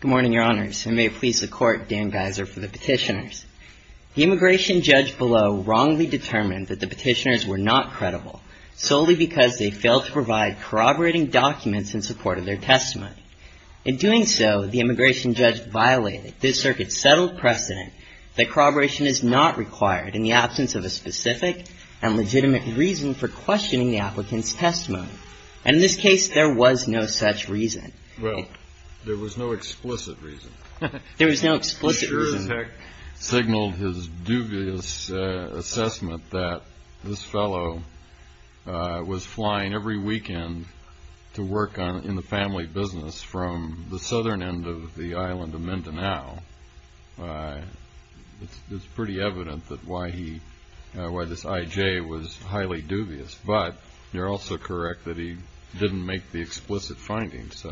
Good morning, your honors, and may it please the court, Dan Geiser for the petitioners. The immigration judge below wrongly determined that the petitioners were not credible, solely because they failed to provide corroborating documents in support of their testimony. In doing so, the immigration judge violated this circuit's settled precedent that corroboration is not required in the absence of a specific and legitimate reason for questioning the applicant's testimony, and in this case there was no such reason. Well, there was no explicit reason. There was no explicit reason. He sure as heck signaled his dubious assessment that this fellow was flying every weekend to work in the family business from the southern end of the island of Mindanao. It's pretty evident that why he, why this I.J. was highly dubious, but you're also correct that he didn't make the explicit finding, so.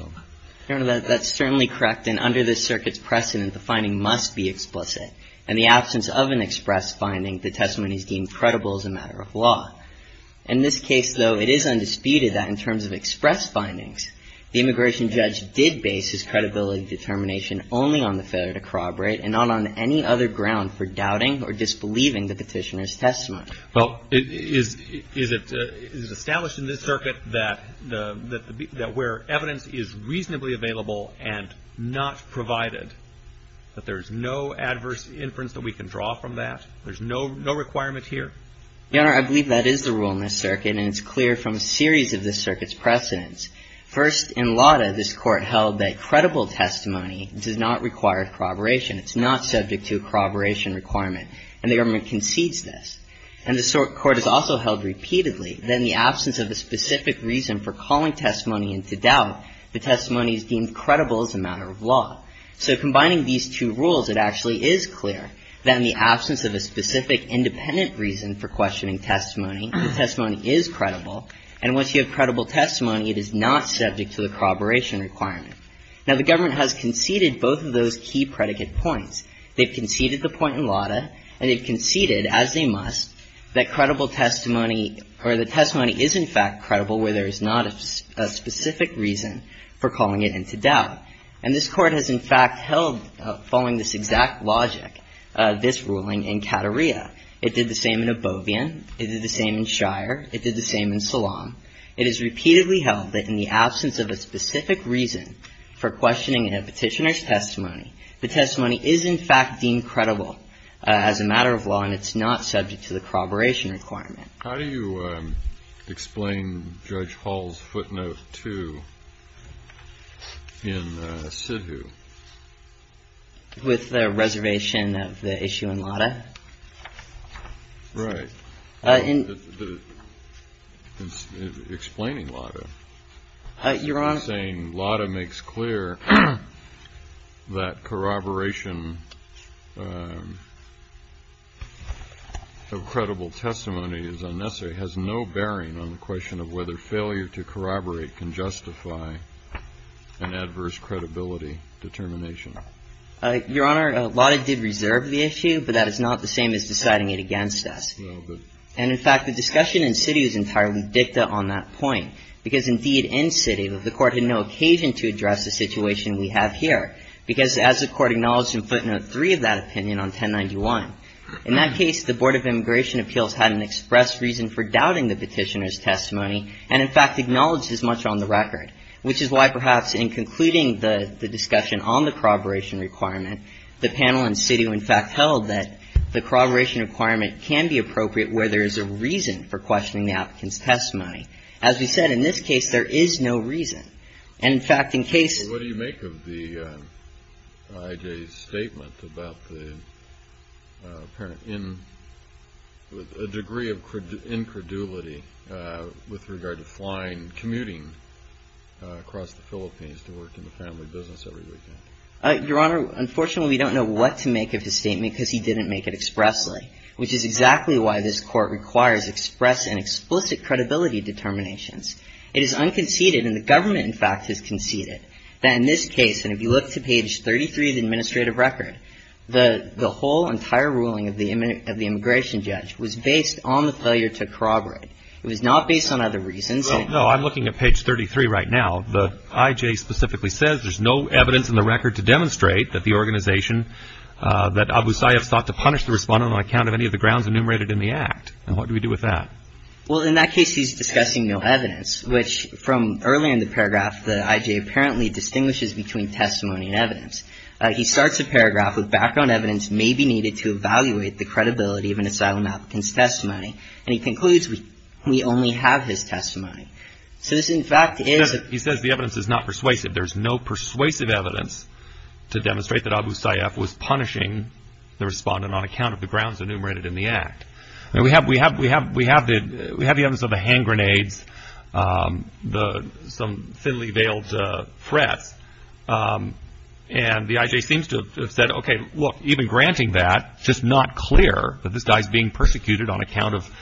Your honor, that's certainly correct, and under this circuit's precedent, the finding must be explicit. In the absence of an express finding, the testimony is deemed credible as a matter of law. In this case, though, it is undisputed that in terms of express findings, the immigration judge did base his credibility determination only on the failure to corroborate and not on any other ground for doubting or disbelieving the petitioner's testimony. Well, is it established in this circuit that where evidence is reasonably available and not provided, that there's no adverse inference that we can draw from that? There's no requirement here? Your honor, I believe that is the rule in this circuit, and it's clear from a series of this circuit's precedents. First, in Lauda, this court held that credible testimony does not require corroboration. It's not subject to a corroboration requirement, and the government concedes this. And the court has also held repeatedly that in the absence of a specific reason for calling testimony into doubt, the testimony is deemed credible as a matter of law. So combining these two rules, it actually is clear that in the absence of a specific independent reason for questioning testimony, the testimony is credible. And once you have credible testimony, it is not subject to the corroboration requirement. Now, the government has conceded both of those key predicate points. They've conceded the point in Lauda, and they've conceded, as they must, that credible testimony or the testimony is, in fact, credible where there is not a specific reason for calling it into doubt. And this court has, in fact, held, following this exact logic, this ruling in Cattaria. It did the same in Obovian. It did the same in Shire. It did the same in Salam. It has repeatedly held that in the absence of a specific reason for questioning a petitioner's testimony, the testimony is, in fact, deemed credible as a matter of law, and it's not subject to the corroboration requirement. How do you explain Judge Hall's footnote 2 in Sidhu? With the reservation of the issue in Lauda? Right. In... Explaining Lauda. You're on... I'm saying Lauda makes clear that corroboration of credible testimony is unnecessary, has no bearing on the question of whether failure to corroborate can justify an adverse credibility determination. Your Honor, Lauda did reserve the issue, but that is not the same as deciding it against us. No, but... But there's really no occasion to address the situation we have here, because as the Court acknowledged in footnote 3 of that opinion on 1091, in that case, the Board of Immigration Appeals had an express reason for doubting the petitioner's testimony, and, in fact, acknowledged as much on the record, which is why, perhaps, in concluding the discussion on the corroboration requirement, the panel in Sidhu, in fact, held that the corroboration requirement can be appropriate where there is a reason for questioning the reason. And, in fact, in cases... What do you make of the I.J.'s statement about the apparent in... A degree of incredulity with regard to flying, commuting across the Philippines to work in the family business every weekend. Your Honor, unfortunately, we don't know what to make of his statement, because he didn't make it expressly, which is exactly why this Court requires express and explicit credibility determinations. It is unconceded, and the government, in fact, has conceded, that in this case, and if you look to page 33 of the administrative record, the whole entire ruling of the immigration judge was based on the failure to corroborate. It was not based on other reasons. Well, no, I'm looking at page 33 right now. The I.J. specifically says there's no evidence in the record to demonstrate that the organization, that Abu Sayyaf sought to punish the respondent on account of any of the grounds enumerated in the Act. And what do we do with that? Well, in that case, he's discussing no evidence, which from earlier in the paragraph, the I.J. apparently distinguishes between testimony and evidence. He starts a paragraph with background evidence may be needed to evaluate the credibility of an asylum applicant's testimony, and he concludes we only have his testimony. So this, in fact, is... He says the evidence is not persuasive. There's no persuasive evidence to demonstrate that Abu Sayyaf was punishing the respondent on account of the grounds enumerated in the Act. Now, we have the evidence of the hand grenades, some thinly veiled threats, and the I.J. seems to have said, okay, look, even granting that, it's just not clear that this guy's being persecuted on account of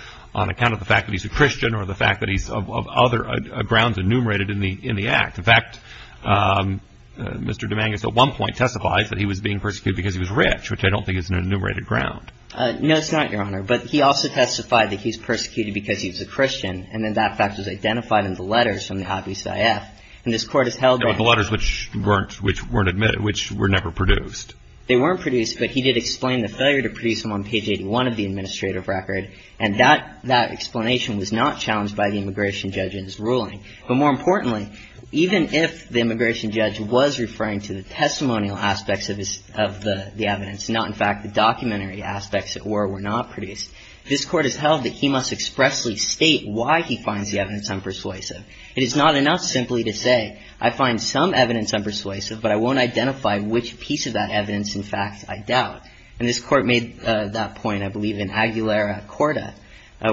the fact that he's a Christian or the fact that he's of other grounds enumerated in the Act. In fact, Mr. Dominguez at one point testifies that he was being persecuted because he was rich, which I don't think is an enumerated ground. No, it's not, Your Honor. But he also testified that he was persecuted because he was a Christian, and then that fact was identified in the letters from Abu Sayyaf. And this Court has held that... The letters which weren't admitted, which were never produced. They weren't produced, but he did explain the failure to produce them on page 81 of the administrative record, and that explanation was not challenged by the immigration judge in his ruling. But more importantly, even if the immigration judge was referring to the testimonial aspects of the evidence, not, in fact, the documentary aspects that were or were not produced, this Court has held that he must expressly state why he finds the evidence unpersuasive. It is not enough simply to say, I find some evidence unpersuasive, but I won't identify which piece of that evidence, in fact, I doubt. And this Court made that point, I believe, in Aguilera-Corda,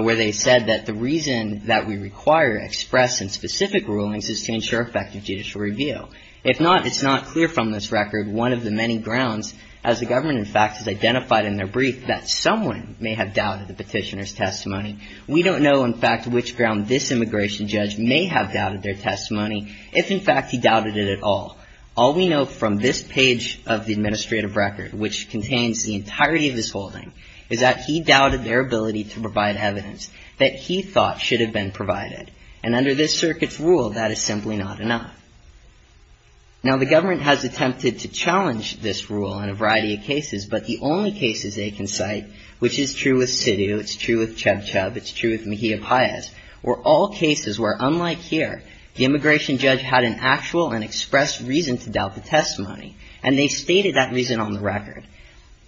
where they said that the reason that we require express and specific rulings is to ensure effective judicial review. If not, it's not clear from this record one of the many grounds, as the government, in fact, has identified in their brief, that someone may have doubted the petitioner's testimony. We don't know, in fact, which ground this immigration judge may have doubted their testimony, if, in fact, he doubted it at all. All we know from this page of the administrative record, which contains the entirety of his holding, is that he doubted their ability to provide evidence that he thought should have been provided. And under this circuit's rule, that is simply not enough. Now, the government has attempted to challenge this rule in a variety of cases, but the only cases they can cite, which is true with Sidhu, it's true with Chub Chub, it's true with Mejia-Payez, were all cases where, unlike here, the immigration judge had an actual and expressed reason to doubt the testimony, and they stated that reason on the record.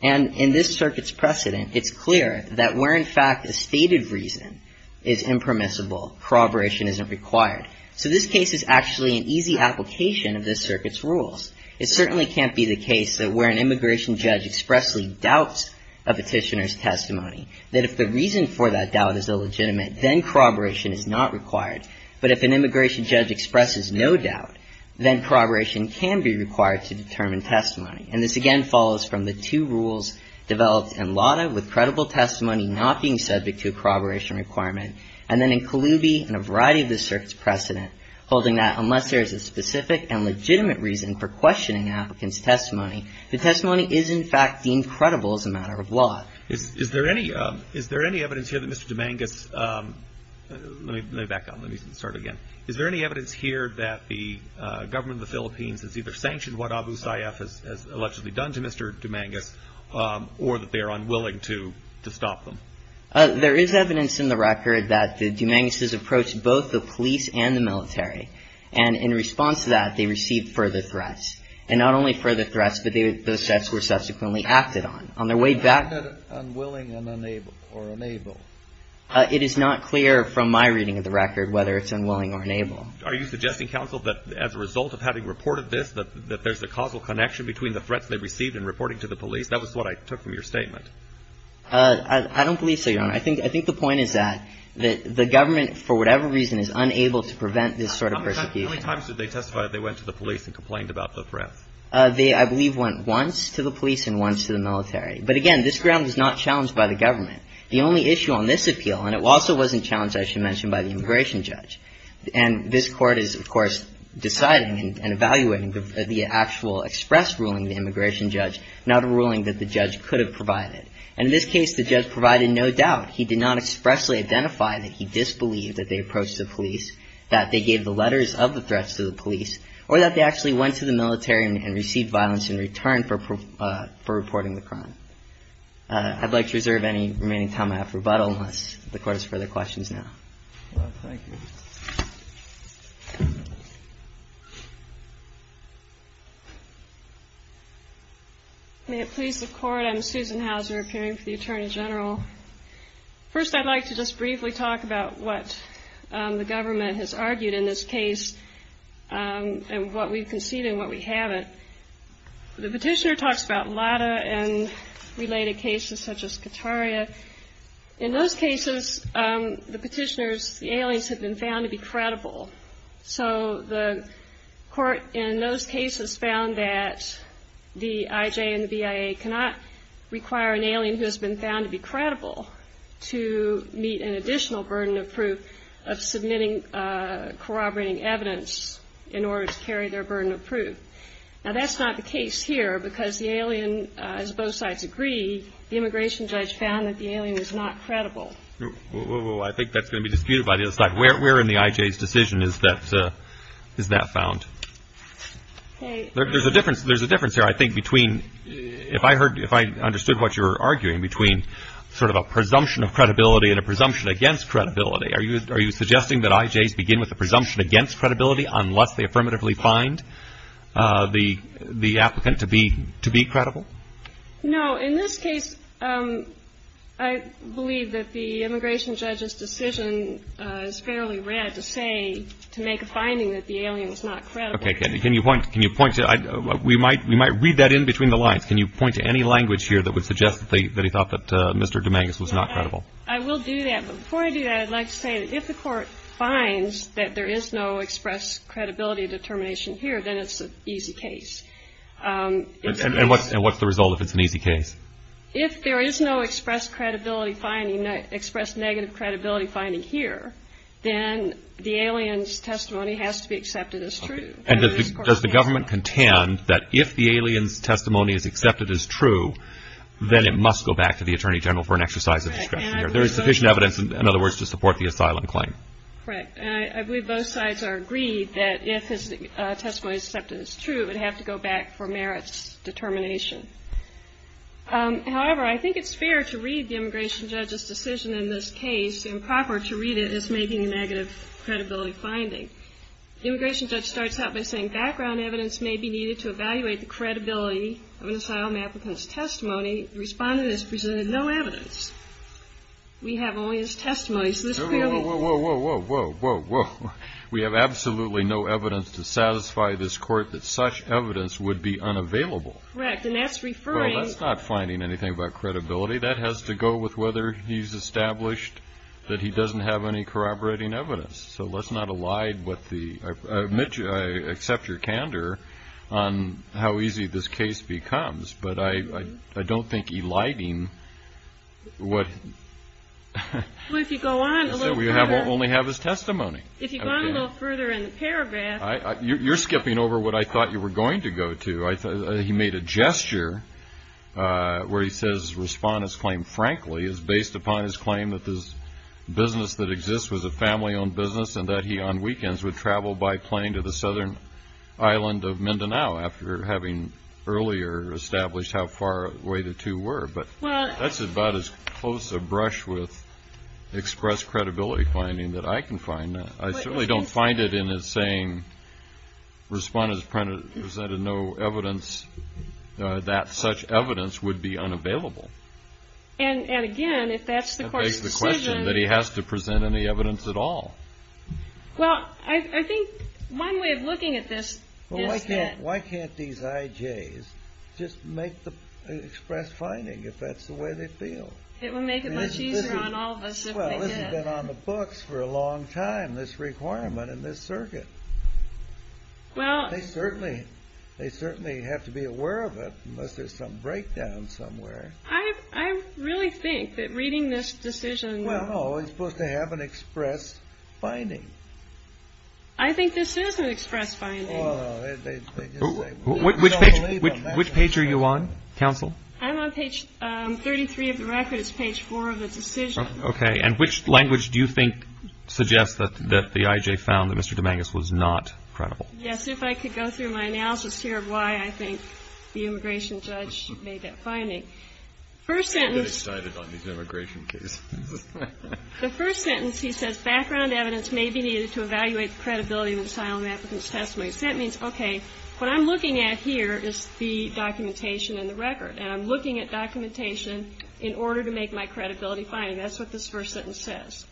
And in this circuit's precedent, it's clear that where, in fact, a stated reason is impermissible, corroboration isn't required. So this case is actually an easy application of this circuit's rules. It certainly can't be the case that where an immigration judge expressly doubts a petitioner's testimony, that if the reason for that doubt is illegitimate, then corroboration is not required. But if an immigration judge expresses no doubt, then corroboration can be required to determine testimony. And this, again, follows from the two rules developed in LADA with credible testimony not being subject to a corroboration requirement, and then in Kalubi and a variety of this circuit's precedent, holding that unless there is a specific and legitimate reason for questioning an applicant's testimony, the testimony is, in fact, deemed credible as a matter of law. Is there any evidence here that Mr. Dominguez – let me back up. Let me start again. Is there any evidence here that the government of the Philippines has either sanctioned what Abu Sayyaf has allegedly done to Mr. Dominguez or that they are unwilling to stop them? There is evidence in the record that the Dominguez's approached both the police and the military. And in response to that, they received further threats. And not only further threats, but those threats were subsequently acted on. On their way back – How is that unwilling or unable? It is not clear from my reading of the record whether it's unwilling or unable. Are you suggesting, counsel, that as a result of having reported this, that there's a causal connection between the threats they received and reporting to the police? That was what I took from your statement. I don't believe so, Your Honor. I think the point is that the government, for whatever reason, is unable to prevent this sort of persecution. How many times did they testify that they went to the police and complained about the threats? They, I believe, went once to the police and once to the military. But, again, this ground is not challenged by the government. The only issue on this appeal, and it also wasn't challenged, I should mention, by the immigration judge. And this Court is, of course, deciding and evaluating the actual express ruling of the immigration judge, not a ruling that the judge could have provided. And in this case, the judge provided no doubt. He did not expressly identify that he disbelieved that they approached the police, that they gave the letters of the threats to the police, or that they actually went to the military and received violence in return for reporting the crime. I'd like to reserve any remaining time I have for rebuttal unless the Court has further questions now. Thank you. May it please the Court. I'm Susan Hauser, appearing for the Attorney General. First, I'd like to just briefly talk about what the government has argued in this case and what we've conceded and what we haven't. The petitioner talks about LADA and related cases such as Kataria. In those cases, the petitioners, the aliens have been found to be credible. So the Court in those cases found that the IJ and the BIA cannot require an alien who has been found to be credible to meet an additional burden of proof of submitting corroborating evidence in order to carry their burden of proof. Now, that's not the case here because the alien, as both sides agree, the immigration judge found that the alien is not credible. Well, I think that's going to be disputed by the other side. Where in the IJ's decision is that found? There's a difference here, I think, between, if I understood what you were arguing, between sort of a presumption of credibility and a presumption against credibility. Are you suggesting that IJs begin with a presumption against credibility unless they affirmatively find the applicant to be credible? No. In this case, I believe that the immigration judge's decision is fairly rare to say, to make a finding that the alien is not credible. Okay. Can you point to, we might read that in between the lines. Can you point to any language here that would suggest that he thought that Mr. Dominguez was not credible? I will do that. But before I do that, I'd like to say that if the Court finds that there is no express credibility determination here, then it's an easy case. And what's the result if it's an easy case? If there is no express credibility finding, express negative credibility finding here, then the alien's testimony has to be accepted as true. And does the government contend that if the alien's testimony is accepted as true, then it must go back to the Attorney General for an exercise of discretion here? There is sufficient evidence, in other words, to support the asylum claim. Correct. And I believe both sides are agreed that if his testimony is accepted as true, it would have to go back for merits determination. However, I think it's fair to read the immigration judge's decision in this case, improper to read it as making a negative credibility finding. The immigration judge starts out by saying, background evidence may be needed to evaluate the credibility of an asylum applicant's testimony. The respondent has presented no evidence. We have only his testimony. Whoa, whoa, whoa, whoa, whoa, whoa, whoa, whoa. We have absolutely no evidence to satisfy this court that such evidence would be unavailable. Correct. And that's referring. Well, that's not finding anything about credibility. That has to go with whether he's established that he doesn't have any corroborating evidence. So let's not elide what the, I accept your candor on how easy this case becomes, but I don't think eliding what. Well, if you go on. So we only have his testimony. If you go on a little further in the paragraph. You're skipping over what I thought you were going to go to. I thought he made a gesture where he says respondent's claim, frankly, is based upon his claim that this business that exists was a family owned business and that he on weekends would travel by plane to the southern island of Mindanao after having earlier established how far away the two were. But that's about as close a brush with express credibility finding that I can find. I certainly don't find it in his saying respondent's presented no evidence that such evidence would be unavailable. And again, if that's the court's decision. That begs the question that he has to present any evidence at all. Well, I think one way of looking at this is that. Why can't these IJs just make the express finding if that's the way they feel? It would make it much easier on all of us if they did. Well, this has been on the books for a long time, this requirement in this circuit. They certainly have to be aware of it unless there's some breakdown somewhere. I really think that reading this decision. Well, no, it's supposed to have an express finding. I think this is an express finding. Which page are you on, counsel? I'm on page 33 of the record. It's page 4 of the decision. Okay. And which language do you think suggests that the IJ found that Mr. Dominguez was not credible? Yes. If I could go through my analysis here of why I think the immigration judge made that finding. First sentence. I'm getting excited on these immigration cases. The first sentence, he says, That means, okay, what I'm looking at here is the documentation in the record, and I'm looking at documentation in order to make my credibility finding. That's what this first sentence says.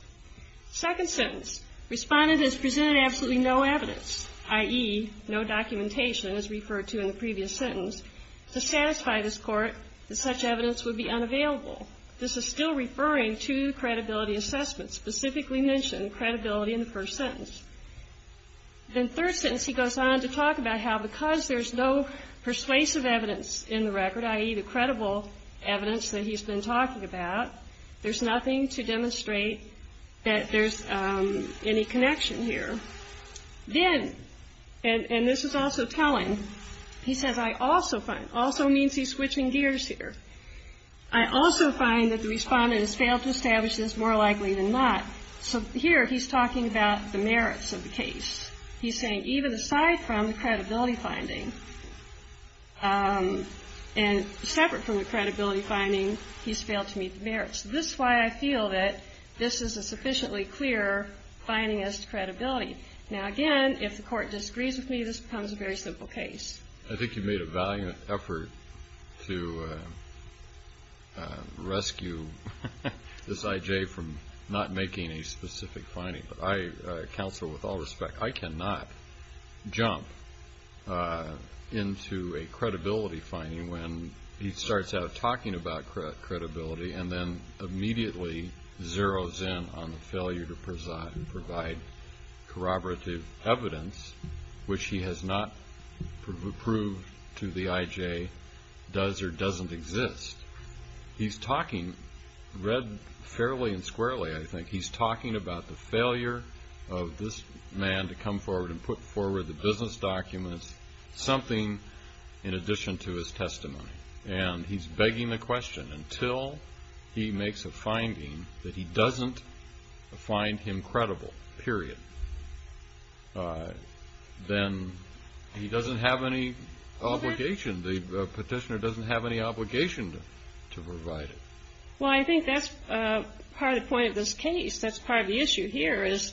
Second sentence. Respondent has presented absolutely no evidence, i.e., no documentation, as referred to in the previous sentence, to satisfy this Court that such evidence would be unavailable. This is still referring to the credibility assessment, specifically mentioned credibility in the first sentence. Then third sentence, he goes on to talk about how because there's no persuasive evidence in the record, i.e., the credible evidence that he's been talking about, there's nothing to demonstrate that there's any connection here. Then, and this is also telling, he says, I also find, also means he's switching gears here. I also find that the respondent has failed to establish this more likely than not. So here he's talking about the merits of the case. He's saying even aside from the credibility finding, and separate from the credibility finding, he's failed to meet the merits. This is why I feel that this is a sufficiently clear finding as to credibility. Now, again, if the Court disagrees with me, this becomes a very simple case. I think you've made a valiant effort to rescue this I.J. from not making a specific finding. But I counsel with all respect, I cannot jump into a credibility finding when he starts out talking about credibility and then immediately zeroes in on the failure to provide corroborative evidence, which he has not proved to the I.J. does or doesn't exist. He's talking, read fairly and squarely, I think, he's talking about the failure of this man to come forward and put forward the business documents, something in addition to his testimony. And he's begging the question, until he makes a finding that he doesn't find him credible, period, then he doesn't have any obligation, the petitioner doesn't have any obligation to provide it. Well, I think that's part of the point of this case. That's part of the issue here is,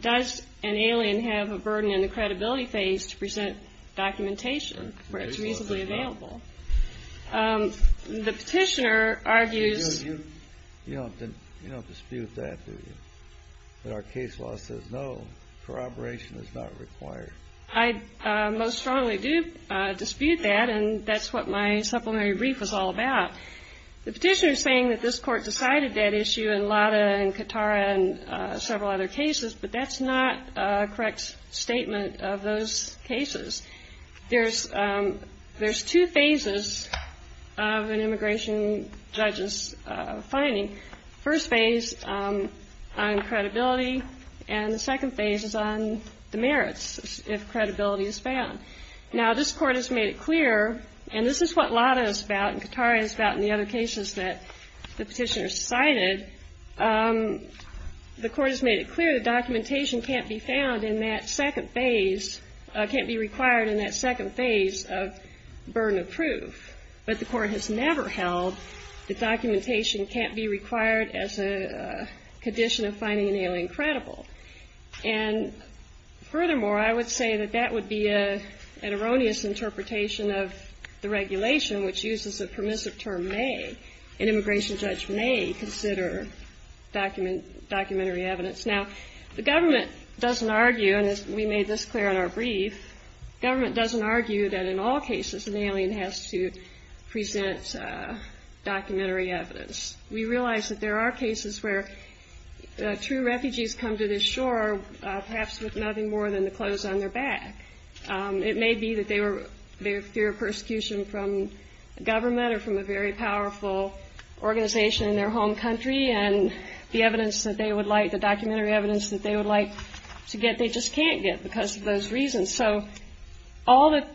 does an alien have a burden in the credibility phase to present documentation where it's reasonably available? The petitioner argues- You don't dispute that, do you? That our case law says no, corroboration is not required. I most strongly do dispute that, and that's what my supplementary brief was all about. The petitioner is saying that this Court decided that issue in Lada and Katara and several other cases, but that's not a correct statement of those cases. There's two phases of an immigration judge's finding. First phase on credibility, and the second phase is on the merits, if credibility is found. Now, this Court has made it clear, and this is what Lada is about and Katara is about in the other cases that the petitioner cited, the Court has made it clear that documentation can't be found in that second phase, can't be required in that second phase of burden of proof. But the Court has never held that documentation can't be required as a condition of finding an alien credible. And furthermore, I would say that that would be an erroneous interpretation of the regulation, which uses the permissive term may. An immigration judge may consider documentary evidence. Now, the government doesn't argue, and we made this clear in our brief, government doesn't argue that in all cases an alien has to present documentary evidence. We realize that there are cases where true refugees come to this shore perhaps with nothing more than the clothes on their back. It may be that they fear persecution from government or from a very powerful organization in their home country, and the documentary evidence that they would like to get they just can't get because of those reasons. So all that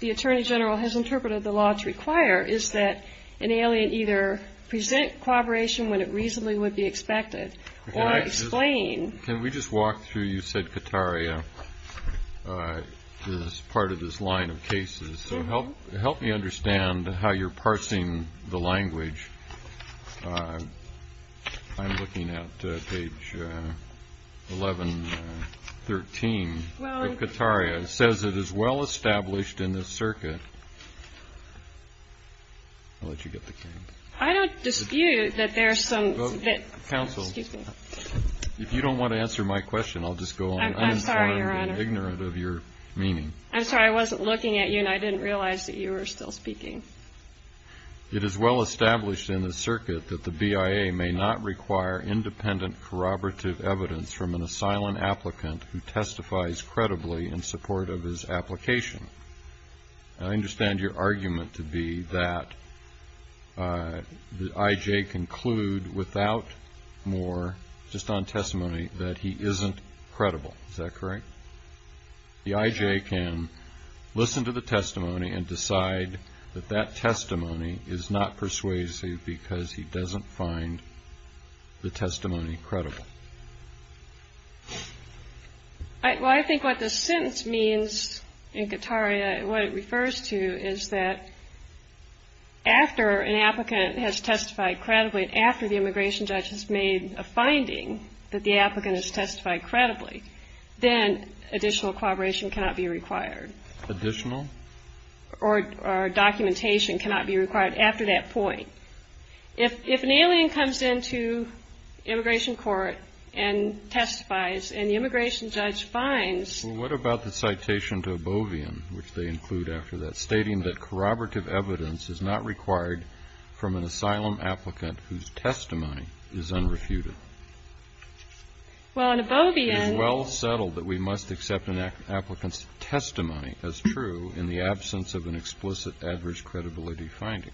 the Attorney General has interpreted the law to require is that an alien either present corroboration when it reasonably would be expected or explain. Can we just walk through, you said Katara is part of this line of cases. So help me understand how you're parsing the language. I'm looking at page 1113. Katara says it is well established in the circuit. I don't dispute that there are some counsel. If you don't want to answer my question, I'll just go on. I'm ignorant of your meaning. I'm sorry. I wasn't looking at you, and I didn't realize that you were still speaking. It is well established in the circuit that the BIA may not require independent corroborative evidence from an asylum applicant who testifies credibly in support of his application. I understand your argument to be that the IJ conclude without more, just on testimony, that he isn't credible. Is that correct? The IJ can listen to the testimony and decide that that testimony is not persuasive because he doesn't find the testimony credible. Well, I think what this sentence means in Katara, what it refers to, is that after an applicant has testified credibly and after the immigration judge has made a finding that the applicant has testified credibly, then additional corroboration cannot be required. Additional? Or documentation cannot be required after that point. If an alien comes into immigration court and testifies, and the immigration judge finds Well, what about the citation to Obovian, which they include after that, stating that corroborative evidence is not required from an asylum applicant whose testimony is unrefuted. Well, in Obovian It is well settled that we must accept an applicant's testimony as true in the absence of an explicit average credibility finding.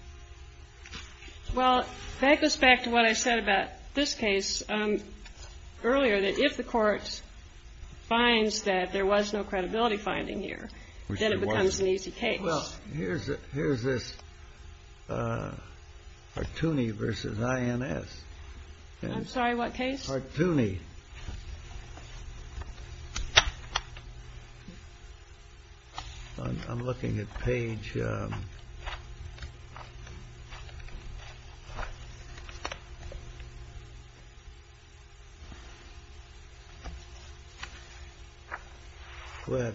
Well, that goes back to what I said about this case earlier, that if the Court finds that there was no credibility finding here, then it becomes an easy case. Well, here's this Hartooni v. INS. I'm sorry, what case? Hartooni. I'm looking at page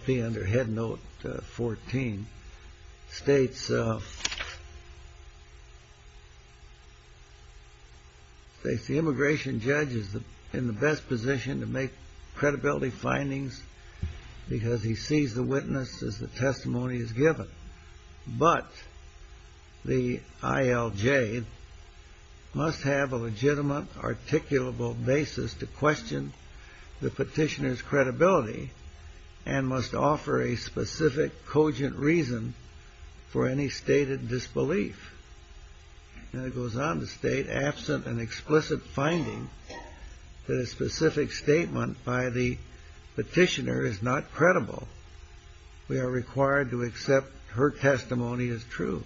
under Head Note 14. States the immigration judge is in the best position to make credibility findings because he sees the witness as the testimony is given. But the ILJ must have a legitimate articulable basis to question the petitioner's credibility and must offer a specific cogent reason for any stated disbelief. And it goes on to state, absent an explicit finding that a specific statement by the petitioner is not credible, we are required to accept her testimony as true.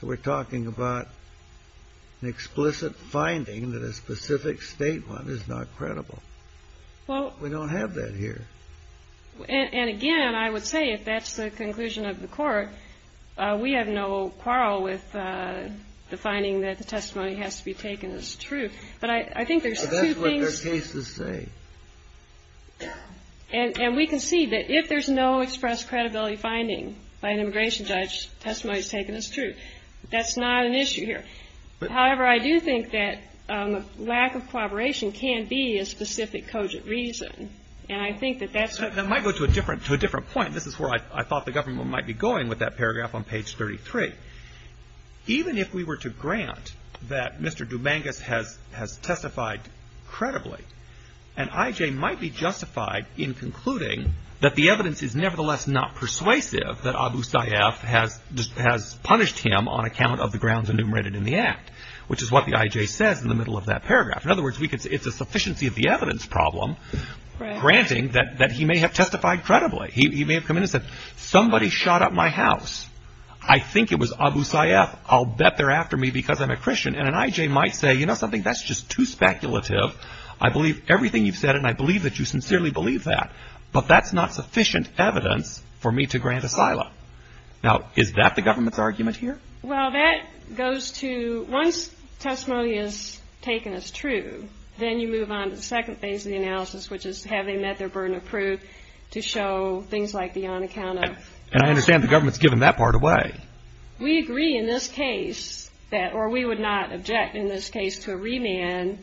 So we're talking about an explicit finding that a specific statement is not credible. We don't have that here. And again, I would say if that's the conclusion of the Court, we have no quarrel with the finding that the testimony has to be taken as true. But I think there's two things. But that's what their cases say. And we can see that if there's no expressed credibility finding by an immigration judge, testimony is taken as true. That's not an issue here. However, I do think that lack of corroboration can be a specific cogent reason. And I think that that's a That might go to a different point. This is where I thought the government might be going with that paragraph on page 33. Even if we were to grant that Mr. Dubangas has testified credibly, an IJ might be justified in concluding that the evidence is nevertheless not persuasive that Abu Sayyaf has punished him on account of the grounds enumerated in the Act, In other words, it's a sufficiency of the evidence problem granting that he may have testified credibly. He may have come in and said, Somebody shot up my house. I think it was Abu Sayyaf. I'll bet they're after me because I'm a Christian. And an IJ might say, You know something, that's just too speculative. I believe everything you've said, and I believe that you sincerely believe that. But that's not sufficient evidence for me to grant asylum. Now, is that the government's argument here? Well, that goes to once testimony is taken as true, then you move on to the second phase of the analysis, which is have they met their burden of proof to show things like the on account of. And I understand the government's given that part away. We agree in this case that, or we would not object in this case to a remand,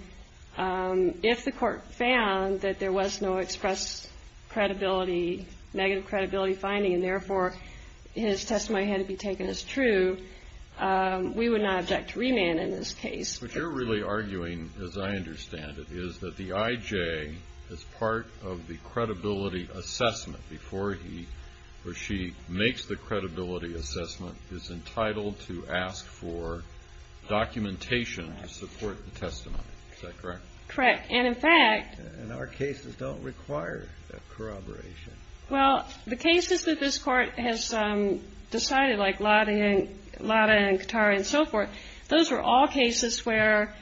if the court found that there was no express credibility, negative credibility finding, and therefore his testimony had to be taken as true, we would not object to remand in this case. What you're really arguing, as I understand it, is that the IJ, as part of the credibility assessment before he or she makes the credibility assessment, is entitled to ask for documentation to support the testimony. Is that correct? Correct. And, in fact. And our cases don't require that corroboration. Well, the cases that this court has decided, like Lada and Katara and so forth, those were all cases where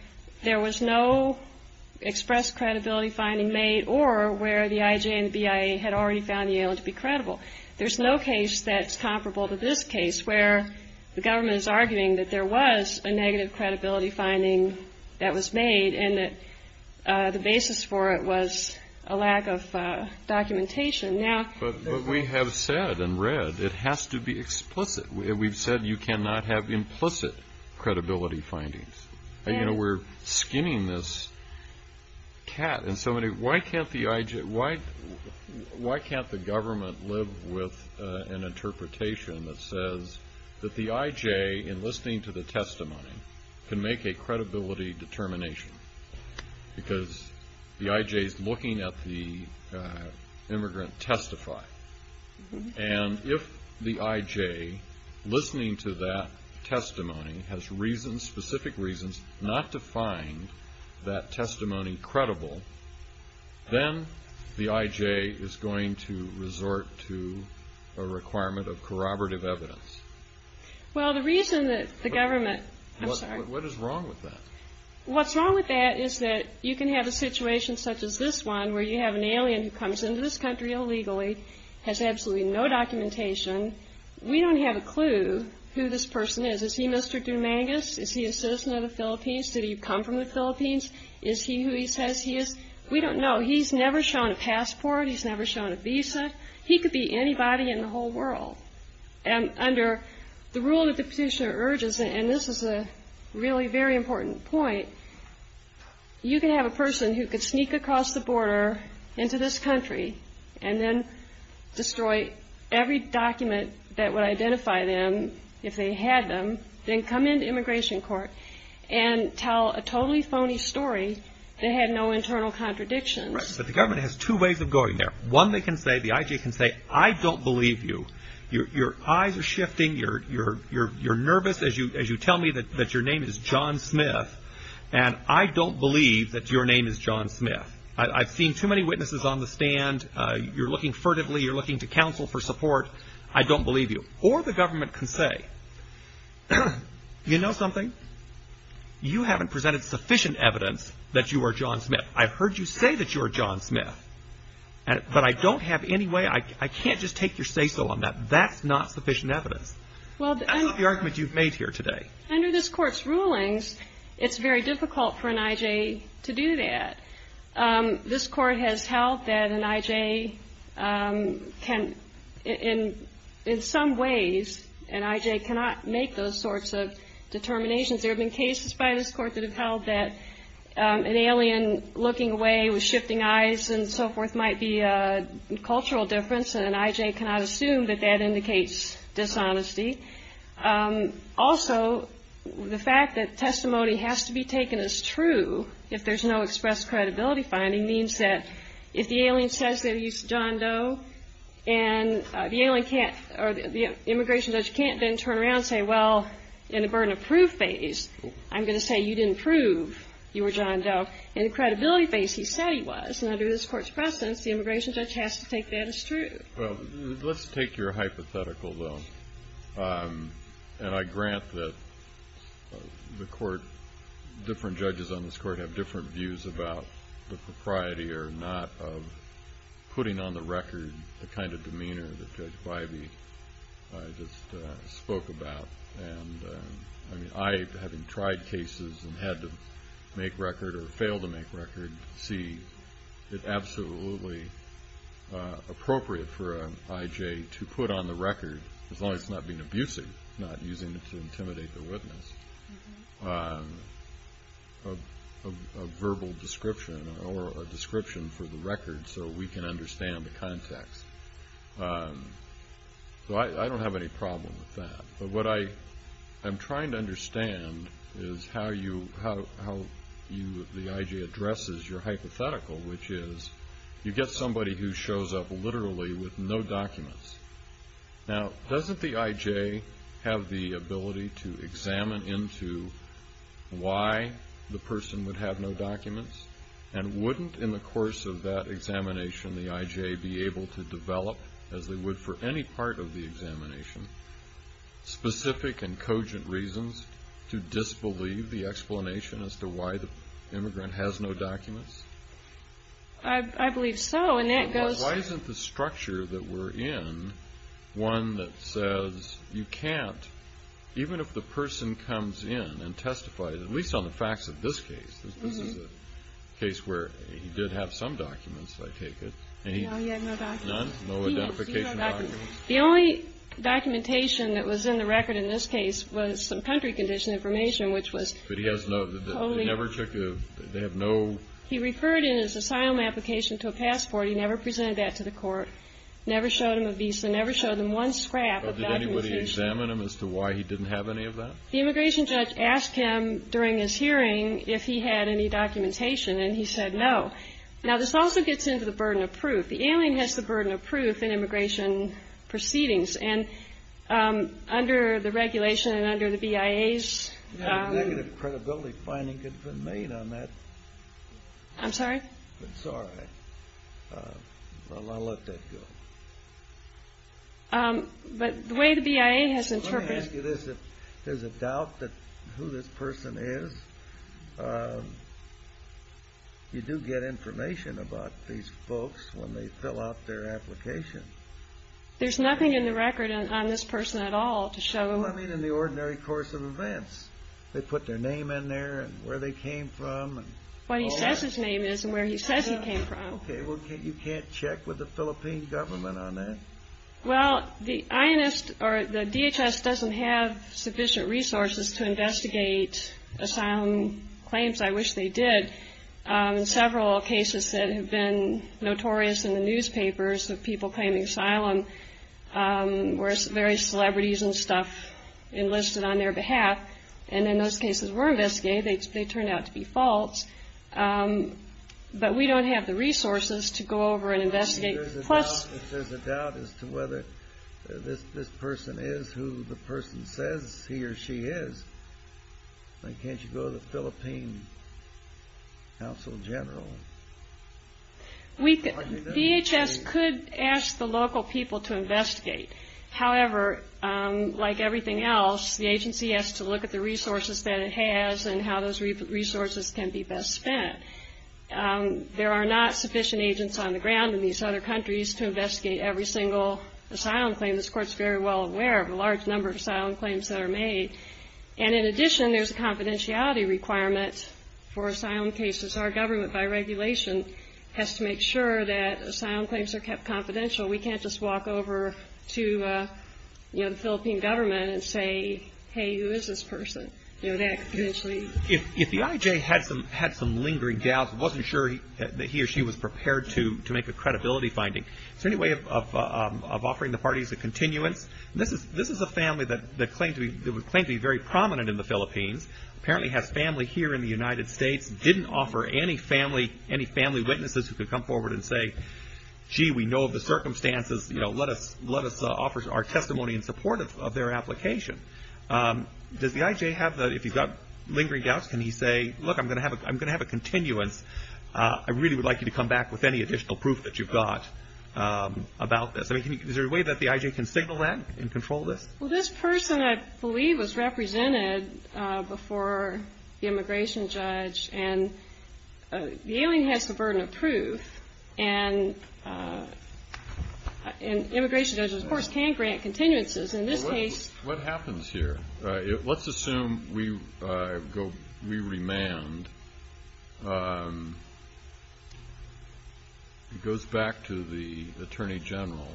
there was no express credibility finding made or where the IJ and the BIA had already found the alien to be credible. There's no case that's comparable to this case where the government is arguing that there was a negative credibility finding that was made and that the basis for it was a lack of documentation. But we have said and read it has to be explicit. We've said you cannot have implicit credibility findings. You know, we're skinning this cat. Why can't the government live with an interpretation that says that the IJ, in listening to the testimony, can make a credibility determination? Because the IJ is looking at the immigrant testify. And if the IJ, listening to that testimony, has reasons, specific reasons, not to find that testimony credible, then the IJ is going to resort to a requirement of corroborative evidence. Well, the reason that the government. I'm sorry. What is wrong with that? What's wrong with that is that you can have a situation such as this one where you have an alien who comes into this country illegally, has absolutely no documentation. We don't have a clue who this person is. Is he Mr. Dumangas? Is he a citizen of the Philippines? Did he come from the Philippines? Is he who he says he is? We don't know. He's never shown a passport. He's never shown a visa. He could be anybody in the whole world. And under the rule that the petitioner urges, and this is a really very important point, you can have a person who could sneak across the border into this country and then destroy every document that would identify them if they had them, then come into immigration court and tell a totally phony story that had no internal contradictions. Right. So the government has two ways of going there. One, they can say, the IJ can say, I don't believe you. Your eyes are shifting. You're nervous as you tell me that your name is John Smith, and I don't believe that your name is John Smith. I've seen too many witnesses on the stand. You're looking furtively. You're looking to counsel for support. I don't believe you. Or the government can say, you know something? You haven't presented sufficient evidence that you are John Smith. I've heard you say that you are John Smith. But I don't have any way, I can't just take your say-so on that. That's not sufficient evidence. That's not the argument you've made here today. Under this Court's rulings, it's very difficult for an IJ to do that. This Court has held that an IJ can, in some ways, an IJ cannot make those sorts of determinations. There have been cases by this Court that have held that an alien looking away with shifting eyes and so forth might be a cultural difference, and an IJ cannot assume that that indicates dishonesty. Also, the fact that testimony has to be taken as true if there's no express credibility finding means that if the alien says that he's John Doe and the alien can't, or the immigration judge can't then turn around and say, well, in the burden of proof phase, I'm going to say you didn't prove you were John Doe. In the credibility phase, he said he was. And under this Court's precedence, the immigration judge has to take that as true. Well, let's take your hypothetical, though. And I grant that the Court, different judges on this Court have different views about the propriety or not of putting on the record the kind of demeanor that Judge Bybee just spoke about. And I, having tried cases and had to make record or fail to make record, see it absolutely appropriate for an IJ to put on the record, as long as it's not being abusive, not using it to intimidate the witness, a verbal description or a description for the record so we can understand the context. So I don't have any problem with that. But what I'm trying to understand is how the IJ addresses your hypothetical, which is you get somebody who shows up literally with no documents. Now, doesn't the IJ have the ability to examine into why the person would have no documents? And wouldn't, in the course of that examination, the IJ be able to develop, as they would for any part of the examination, specific and cogent reasons to disbelieve the explanation as to why the immigrant has no documents? I believe so. Why isn't the structure that we're in one that says you can't, even if the person comes in and testifies, at least on the facts of this case, because this is a case where he did have some documents, I take it. No, he had no documents. None? No identification documents? He has zero documents. The only documentation that was in the record in this case was some country condition information, which was totally- But he has no, they never took a, they have no- He referred in his asylum application to a passport. He never presented that to the court, never showed them a visa, never showed them one scrap of documentation. But did anybody examine him as to why he didn't have any of that? The immigration judge asked him during his hearing if he had any documentation, and he said no. Now, this also gets into the burden of proof. The alien has the burden of proof in immigration proceedings, and under the regulation and under the BIA's- I'm sorry? I'm sorry. I'll let that go. But the way the BIA has interpreted- Let me ask you this. If there's a doubt that who this person is, you do get information about these folks when they fill out their application. There's nothing in the record on this person at all to show- Well, I mean in the ordinary course of events. They put their name in there and where they came from. What he says his name is and where he says he came from. Okay, well, you can't check with the Philippine government on that. Well, the INS or the DHS doesn't have sufficient resources to investigate asylum claims. I wish they did. In several cases that have been notorious in the newspapers of people claiming asylum, where various celebrities and stuff enlisted on their behalf, and in those cases were investigated, they turned out to be false. But we don't have the resources to go over and investigate. Plus- If there's a doubt as to whether this person is who the person says he or she is, why can't you go to the Philippine Counsel General? DHS could ask the local people to investigate. However, like everything else, the agency has to look at the resources that it has and how those resources can be best spent. There are not sufficient agents on the ground in these other countries to investigate every single asylum claim. And this Court's very well aware of a large number of asylum claims that are made. And in addition, there's a confidentiality requirement for asylum cases. Our government, by regulation, has to make sure that asylum claims are kept confidential. We can't just walk over to, you know, the Philippine government and say, hey, who is this person? You know, that could potentially- If the IJ had some lingering doubts, wasn't sure that he or she was prepared to make a credibility finding, is there any way of offering the parties a continuance? This is a family that would claim to be very prominent in the Philippines, apparently has family here in the United States, didn't offer any family witnesses who could come forward and say, gee, we know of the circumstances. You know, let us offer our testimony in support of their application. Does the IJ have the- If he's got lingering doubts, can he say, look, I'm going to have a continuance. I really would like you to come back with any additional proof that you've got about this. I mean, is there a way that the IJ can signal that and control this? Well, this person, I believe, was represented before the immigration judge, and the alien has the burden of proof, and immigration judges, of course, can grant continuances. In this case- What happens here? Let's assume we remand. It goes back to the attorney general,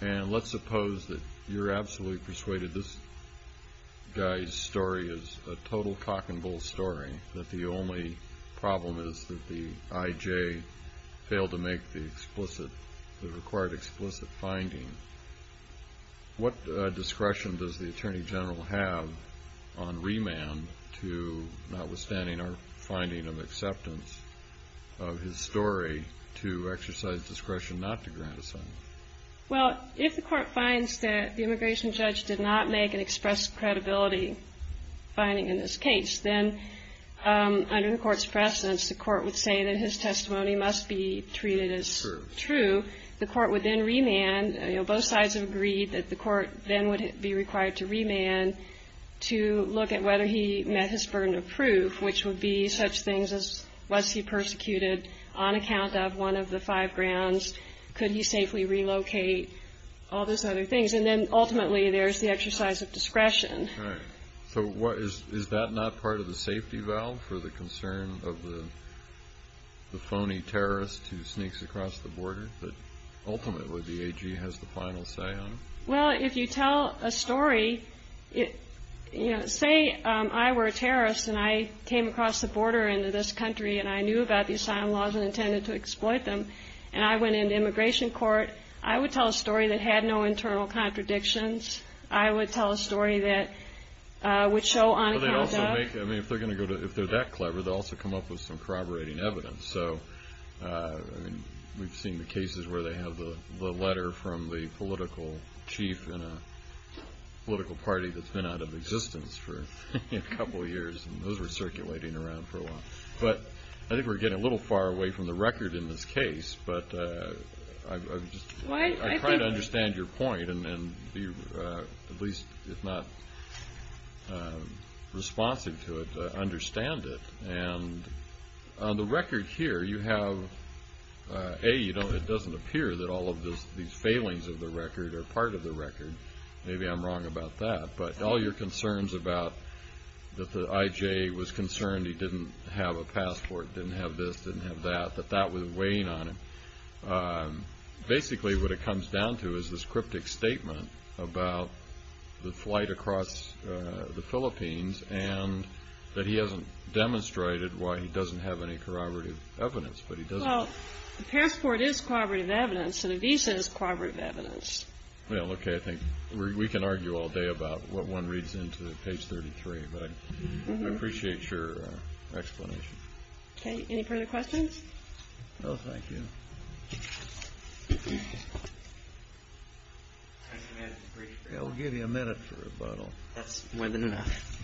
and let's suppose that you're absolutely persuaded this guy's story is a total cock and bull story, that the only problem is that the IJ failed to make the required explicit finding. What discretion does the attorney general have on remand to, notwithstanding our finding of acceptance of his story, to exercise discretion not to grant asylum? Well, if the court finds that the immigration judge did not make an expressed credibility finding in this case, then under the court's precedence, the court would say that his testimony must be treated as true. The court would then remand. Both sides have agreed that the court then would be required to remand to look at whether he met his burden of proof, which would be such things as was he persecuted on account of one of the five grounds, could he safely relocate, all those other things. And then, ultimately, there's the exercise of discretion. So is that not part of the safety valve for the concern of the phony terrorist who sneaks across the border, that ultimately the AG has the final say on? Well, if you tell a story, say I were a terrorist and I came across the border into this country and I knew about the asylum laws and intended to exploit them, and I went into immigration court, I would tell a story that had no internal contradictions. I would tell a story that would show on account of. If they're that clever, they'll also come up with some corroborating evidence. So we've seen the cases where they have the letter from the political chief in a political party that's been out of existence for a couple of years, and those were circulating around for a while. But I think we're getting a little far away from the record in this case, but I'm trying to understand your point and be, at least if not responsive to it, understand it. And on the record here, you have, A, it doesn't appear that all of these failings of the record are part of the record. Maybe I'm wrong about that. But all your concerns about that the IJ was concerned he didn't have a passport, didn't have this, didn't have that, that that was weighing on him, basically what it comes down to is this cryptic statement about the flight across the Philippines and that he hasn't demonstrated why he doesn't have any corroborative evidence. Well, the passport is corroborative evidence and the visa is corroborative evidence. I think we can argue all day about what one reads into page 33, but I appreciate your explanation. Any further questions? Thank you. I'll give you a minute for a bottle. That's more than enough.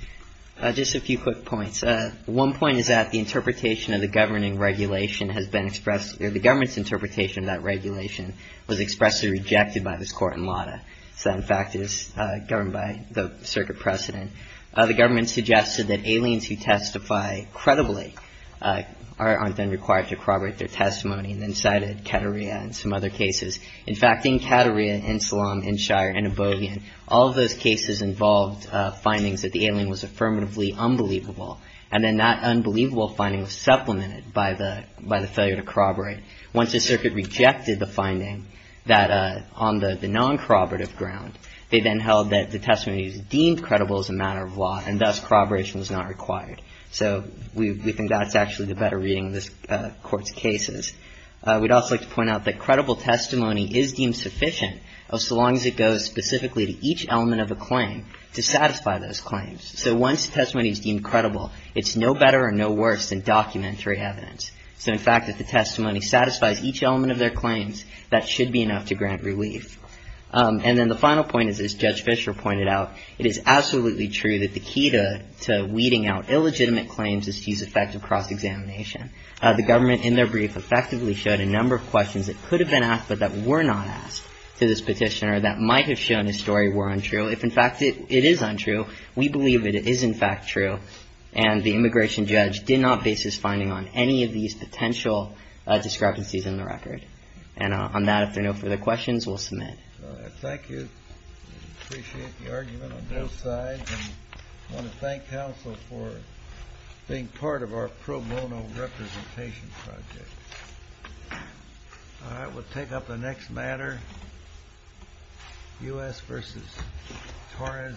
Just a few quick points. One point is that the interpretation of the governing regulation has been expressed. The government's interpretation of that regulation was expressly rejected by this court in LADA. So, in fact, it is governed by the circuit precedent. The government suggested that aliens who testify credibly aren't then required to corroborate their testimony and then cited Kateria and some other cases. In fact, in Kateria and Salam and Shire and Ibogaine, all of those cases involved findings that the alien was affirmatively unbelievable. And then that unbelievable finding was supplemented by the failure to corroborate. Once the circuit rejected the finding that on the non-corroborative ground, they then held that the testimony was deemed credible as a matter of law and thus corroboration was not required. So we think that's actually the better reading of this Court's cases. We'd also like to point out that credible testimony is deemed sufficient, so long as it goes specifically to each element of a claim to satisfy those claims. So once the testimony is deemed credible, it's no better or no worse than documentary evidence. So, in fact, if the testimony satisfies each element of their claims, that should be enough to grant relief. And then the final point is, as Judge Fischer pointed out, it is absolutely true that the key to weeding out illegitimate claims is to use effective cross-examination. The government, in their brief, effectively showed a number of questions that could have been asked but that were not asked to this petitioner that might have shown his story were untrue. If, in fact, it is untrue, we believe it is, in fact, true. And the immigration judge did not base his finding on any of these potential discrepancies in the record. And on that, if there are no further questions, we'll submit. Thank you. I appreciate the argument on both sides. I want to thank counsel for being part of our pro bono representation project. All right, we'll take up the next matter, U.S. v. Torres Jimenez.